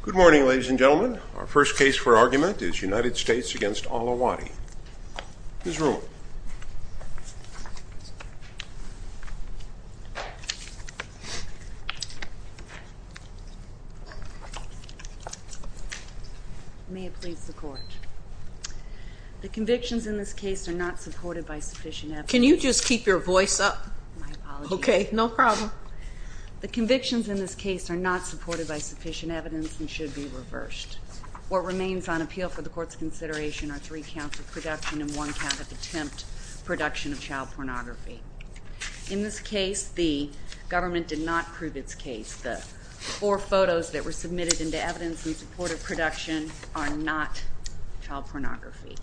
Good morning, ladies and gentlemen. Our first case for argument is United States v. Ali Al-Awadi. Ms. Ruhl. May it please the Court. The convictions in this case are not supported by sufficient evidence. Can you just keep your voice up? My apologies. Okay, no problem. The convictions in this case are not supported by sufficient evidence and should be reversed. What remains on appeal for the Court's consideration are three counts of production and one count of attempt production of child pornography. In this case, the government did not prove its case. The four photos that were submitted into evidence in support of production are not child pornography.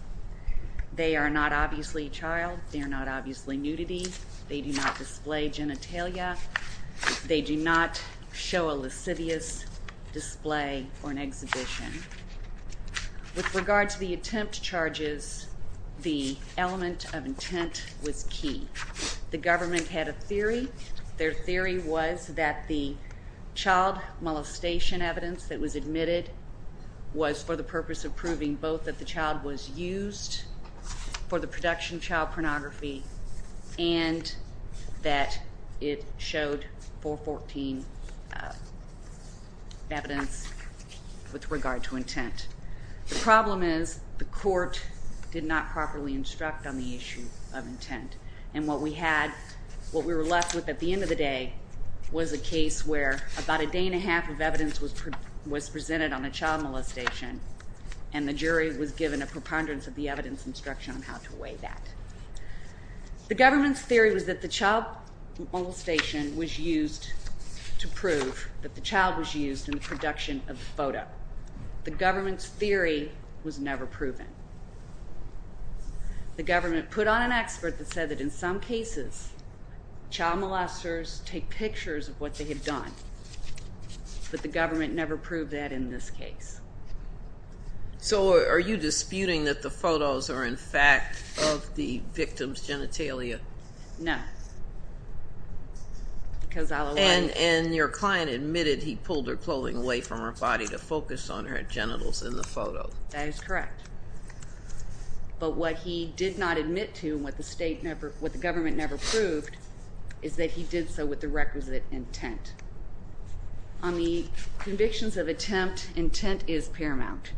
They are not obviously child. They are not obviously nudity. They do not display genitalia. They do not show a lascivious display or an exhibition. With regard to the attempt charges, the element of intent was key. The government had a theory. Their theory was that the child molestation evidence that was admitted was for the purpose of proving both that the child was used for the production of child pornography and that it showed 414 evidence with regard to intent. The problem is the Court did not properly instruct on the issue of intent. And what we were left with at the end of the day was a case where about a day and a half of evidence was presented on the child molestation and the jury was given a preponderance of the evidence instruction on how to weigh that. The government's theory was that the child molestation was used to prove that the child was used in the production of the photo. The government's theory was never proven. The government put on an expert that said that in some cases, child molesters take pictures of what they have done. But the government never proved that in this case. So are you disputing that the photos are in fact of the victim's genitalia? No. And your client admitted he pulled her clothing away from her body to focus on her genitals in the photo. That is correct. But what he did not admit to and what the government never proved is that he did so with the requisite intent. On the convictions of attempt, intent is paramount.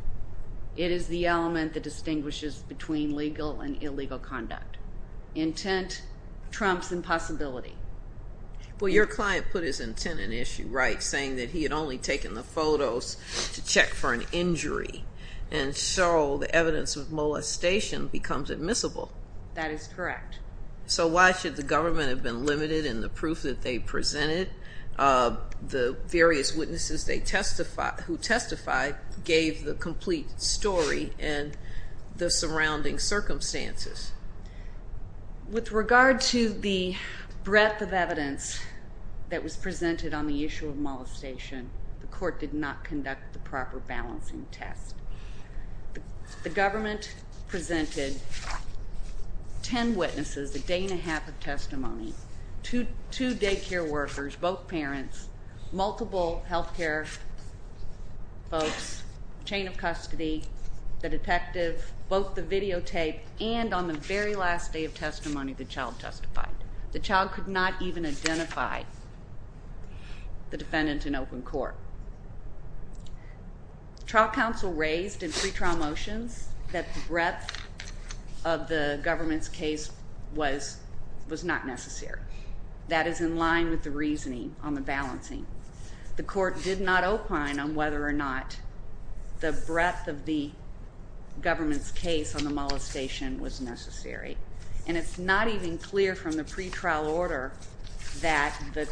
It is the element that distinguishes between legal and illegal conduct. Intent trumps impossibility. Well, your client put his intent in issue, right, saying that he had only taken the photos to check for an injury. And so the evidence of molestation becomes admissible. That is correct. So why should the government have been limited in the proof that they presented? The various witnesses who testified gave the complete story and the surrounding circumstances. With regard to the breadth of evidence that was presented on the issue of molestation, the court did not conduct the proper balancing test. The government presented ten witnesses a day and a half of testimony, two daycare workers, both parents, multiple health care folks, chain of custody, the detective, both the videotape, and on the very last day of testimony, the child testified. The child could not even identify the defendant in open court. Trial counsel raised in pretrial motions that the breadth of the government's case was not necessary. That is in line with the reasoning on the balancing. The court did not opine on whether or not the breadth of the government's case on the molestation was necessary. And it's not even clear from the pretrial order that the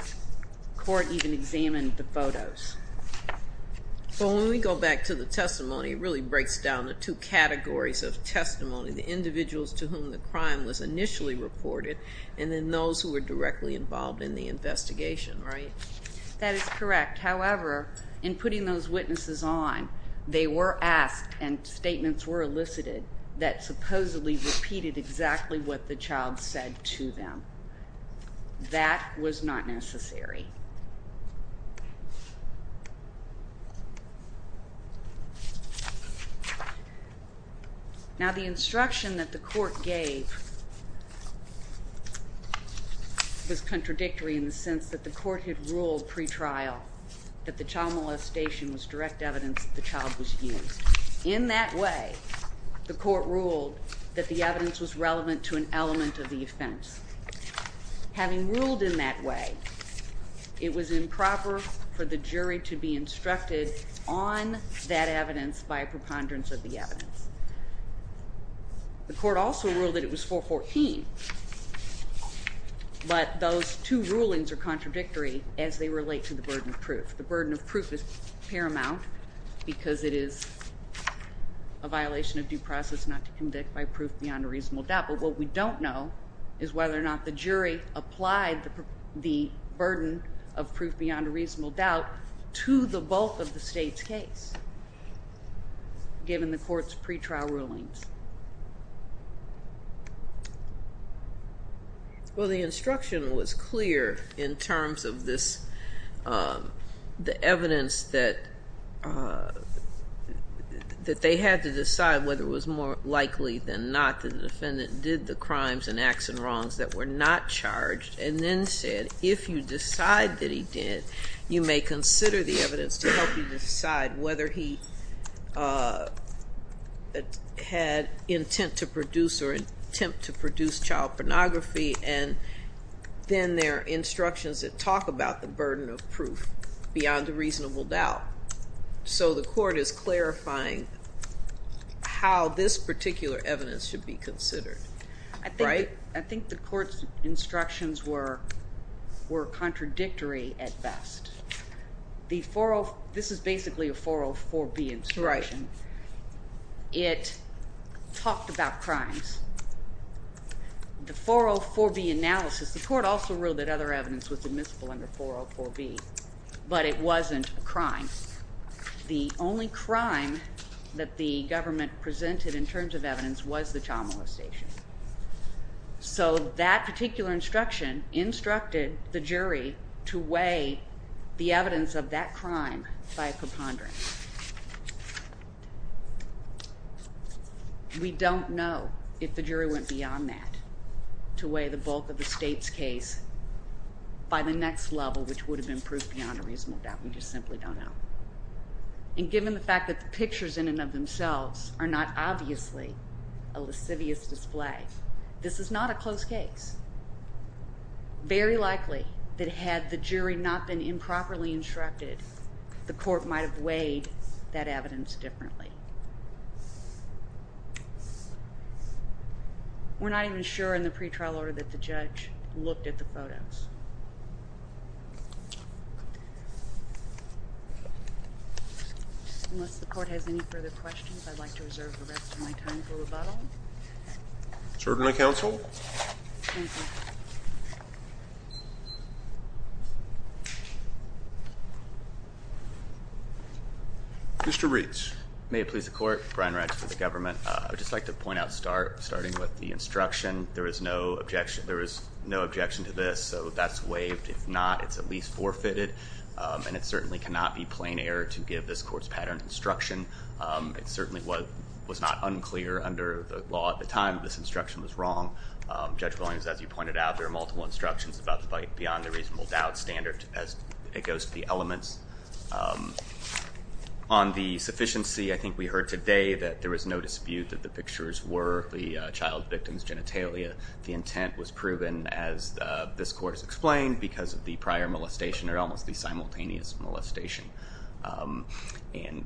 court even examined the photos. Well, when we go back to the testimony, it really breaks down the two categories of testimony, the individuals to whom the crime was initially reported and then those who were directly involved in the investigation, right? That is correct. However, in putting those witnesses on, they were asked and statements were elicited that supposedly repeated exactly what the child said to them. That was not necessary. Now, the instruction that the court gave was contradictory in the sense that the court had ruled pretrial that the child molestation was direct evidence that the child was used. In that way, the court ruled that the evidence was relevant to an element of the offense. Having ruled in that way, it was improper for the jury to be instructed on that evidence by a preponderance of the evidence. The court also ruled that it was 414, but those two rulings are contradictory as they relate to the burden of proof. The burden of proof is paramount because it is a violation of due process not to convict by proof beyond a reasonable doubt. But what we don't know is whether or not the jury applied the burden of proof beyond a reasonable doubt to the bulk of the state's case given the court's pretrial rulings. Well, the instruction was clear in terms of the evidence that they had to decide whether it was more likely than not that the defendant did the crimes and acts and wrongs that were not charged. And then said, if you decide that he did, you may consider the evidence to help you decide whether he had intent to produce or attempt to produce child pornography, and then there are instructions that talk about the burden of proof beyond a reasonable doubt. So the court is clarifying how this particular evidence should be considered, right? I think the court's instructions were contradictory at best. This is basically a 404B instruction. It talked about crimes. The 404B analysis, the court also ruled that other evidence was admissible under 404B, but it wasn't a crime. The only crime that the government presented in terms of evidence was the child molestation. So that particular instruction instructed the jury to weigh the evidence of that crime by a preponderance. We don't know if the jury went beyond that to weigh the bulk of the state's case by the next level, which would have been proof beyond a reasonable doubt. We just simply don't know. And given the fact that the pictures in and of themselves are not obviously a lascivious display, this is not a close case. Very likely that had the jury not been improperly instructed, the court might have weighed that evidence differently. We're not even sure in the pretrial order that the judge looked at the photos. Unless the court has any further questions, I'd like to reserve the rest of my time for rebuttal. Certainly, counsel. Thank you. Mr. Reeds. May it please the court. Brian Redge for the government. I would just like to point out, starting with the instruction, there is no objection to this. So that's waived. If not, it's at least forfeited. And it certainly cannot be plain error to give this court's patterned instruction. It certainly was not unclear under the law at the time that this instruction was wrong. Judge Williams, as you pointed out, there are multiple instructions beyond the reasonable doubt standard as it goes to the elements. On the sufficiency, I think we heard today that there was no dispute that the pictures were the child victim's genitalia. The intent was proven, as this court has explained, because of the prior molestation or almost the simultaneous molestation. And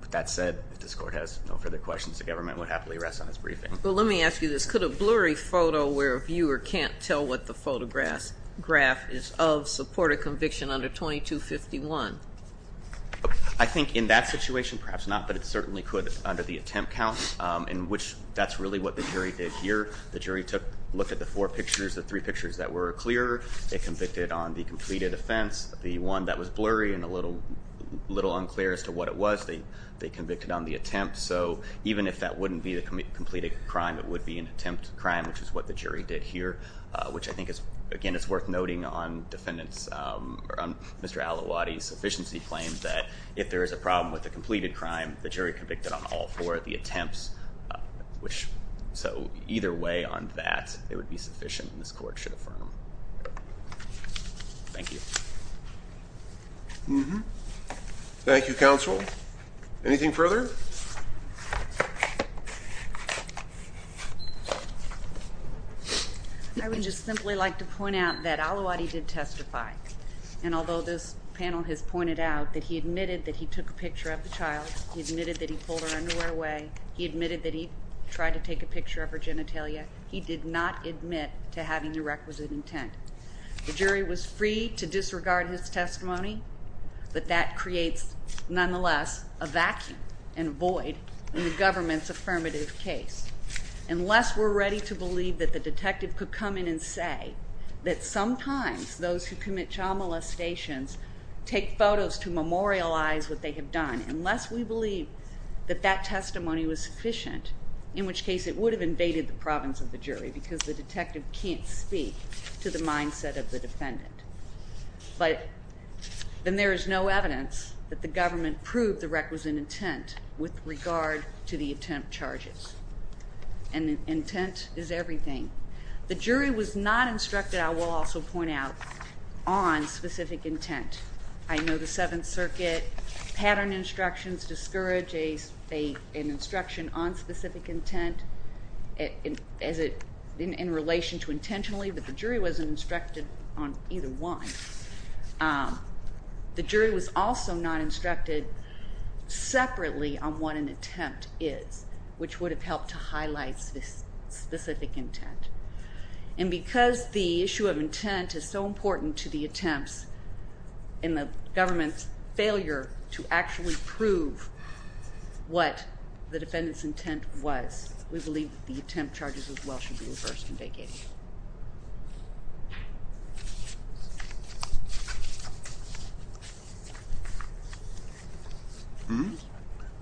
with that said, if this court has no further questions, the government would happily rest on its briefing. Well, let me ask you this. Could a blurry photo where a viewer can't tell what the photograph is of support a conviction under 2251? I think in that situation, perhaps not, but it certainly could under the attempt count, in which that's really what the jury did here. The jury took a look at the four pictures, the three pictures that were clear. They convicted on the completed offense, the one that was blurry and a little unclear as to what it was. They convicted on the attempt. So even if that wouldn't be the completed crime, it would be an attempt crime, which is what the jury did here, which I think is, again, it's worth noting on Mr. Al-Awadi's sufficiency claim that if there is a problem with the completed crime, the jury convicted on all four of the attempts. So either way on that, it would be sufficient, and this court should affirm. Thank you. Thank you, counsel. Anything further? I would just simply like to point out that Al-Awadi did testify, and although this panel has pointed out that he admitted that he took a picture of the child, he admitted that he pulled her underwear away, he admitted that he tried to take a picture of her genitalia, he did not admit to having the requisite intent. The jury was free to disregard his testimony, but that creates, nonetheless, a vacuum and void in the government's affirmative case. Unless we're ready to believe that the detective could come in and say that sometimes those who commit child molestations take photos to memorialize what they have done, unless we believe that that testimony was sufficient, in which case it would have invaded the province of the jury because the detective can't speak to the mindset of the defendant. But then there is no evidence that the government proved the requisite intent with regard to the attempt charges. And intent is everything. The jury was not instructed, I will also point out, on specific intent. I know the Seventh Circuit pattern instructions discourage an instruction on specific intent in relation to intentionally, but the jury wasn't instructed on either one. The jury was also not instructed separately on what an attempt is, which would have helped to highlight specific intent. And because the issue of intent is so important to the attempts, and the government's failure to actually prove what the defendant's intent was, we believe the attempt charges as well should be reversed in vague 88.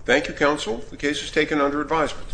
Thank you, counsel. The case is taken under advisement.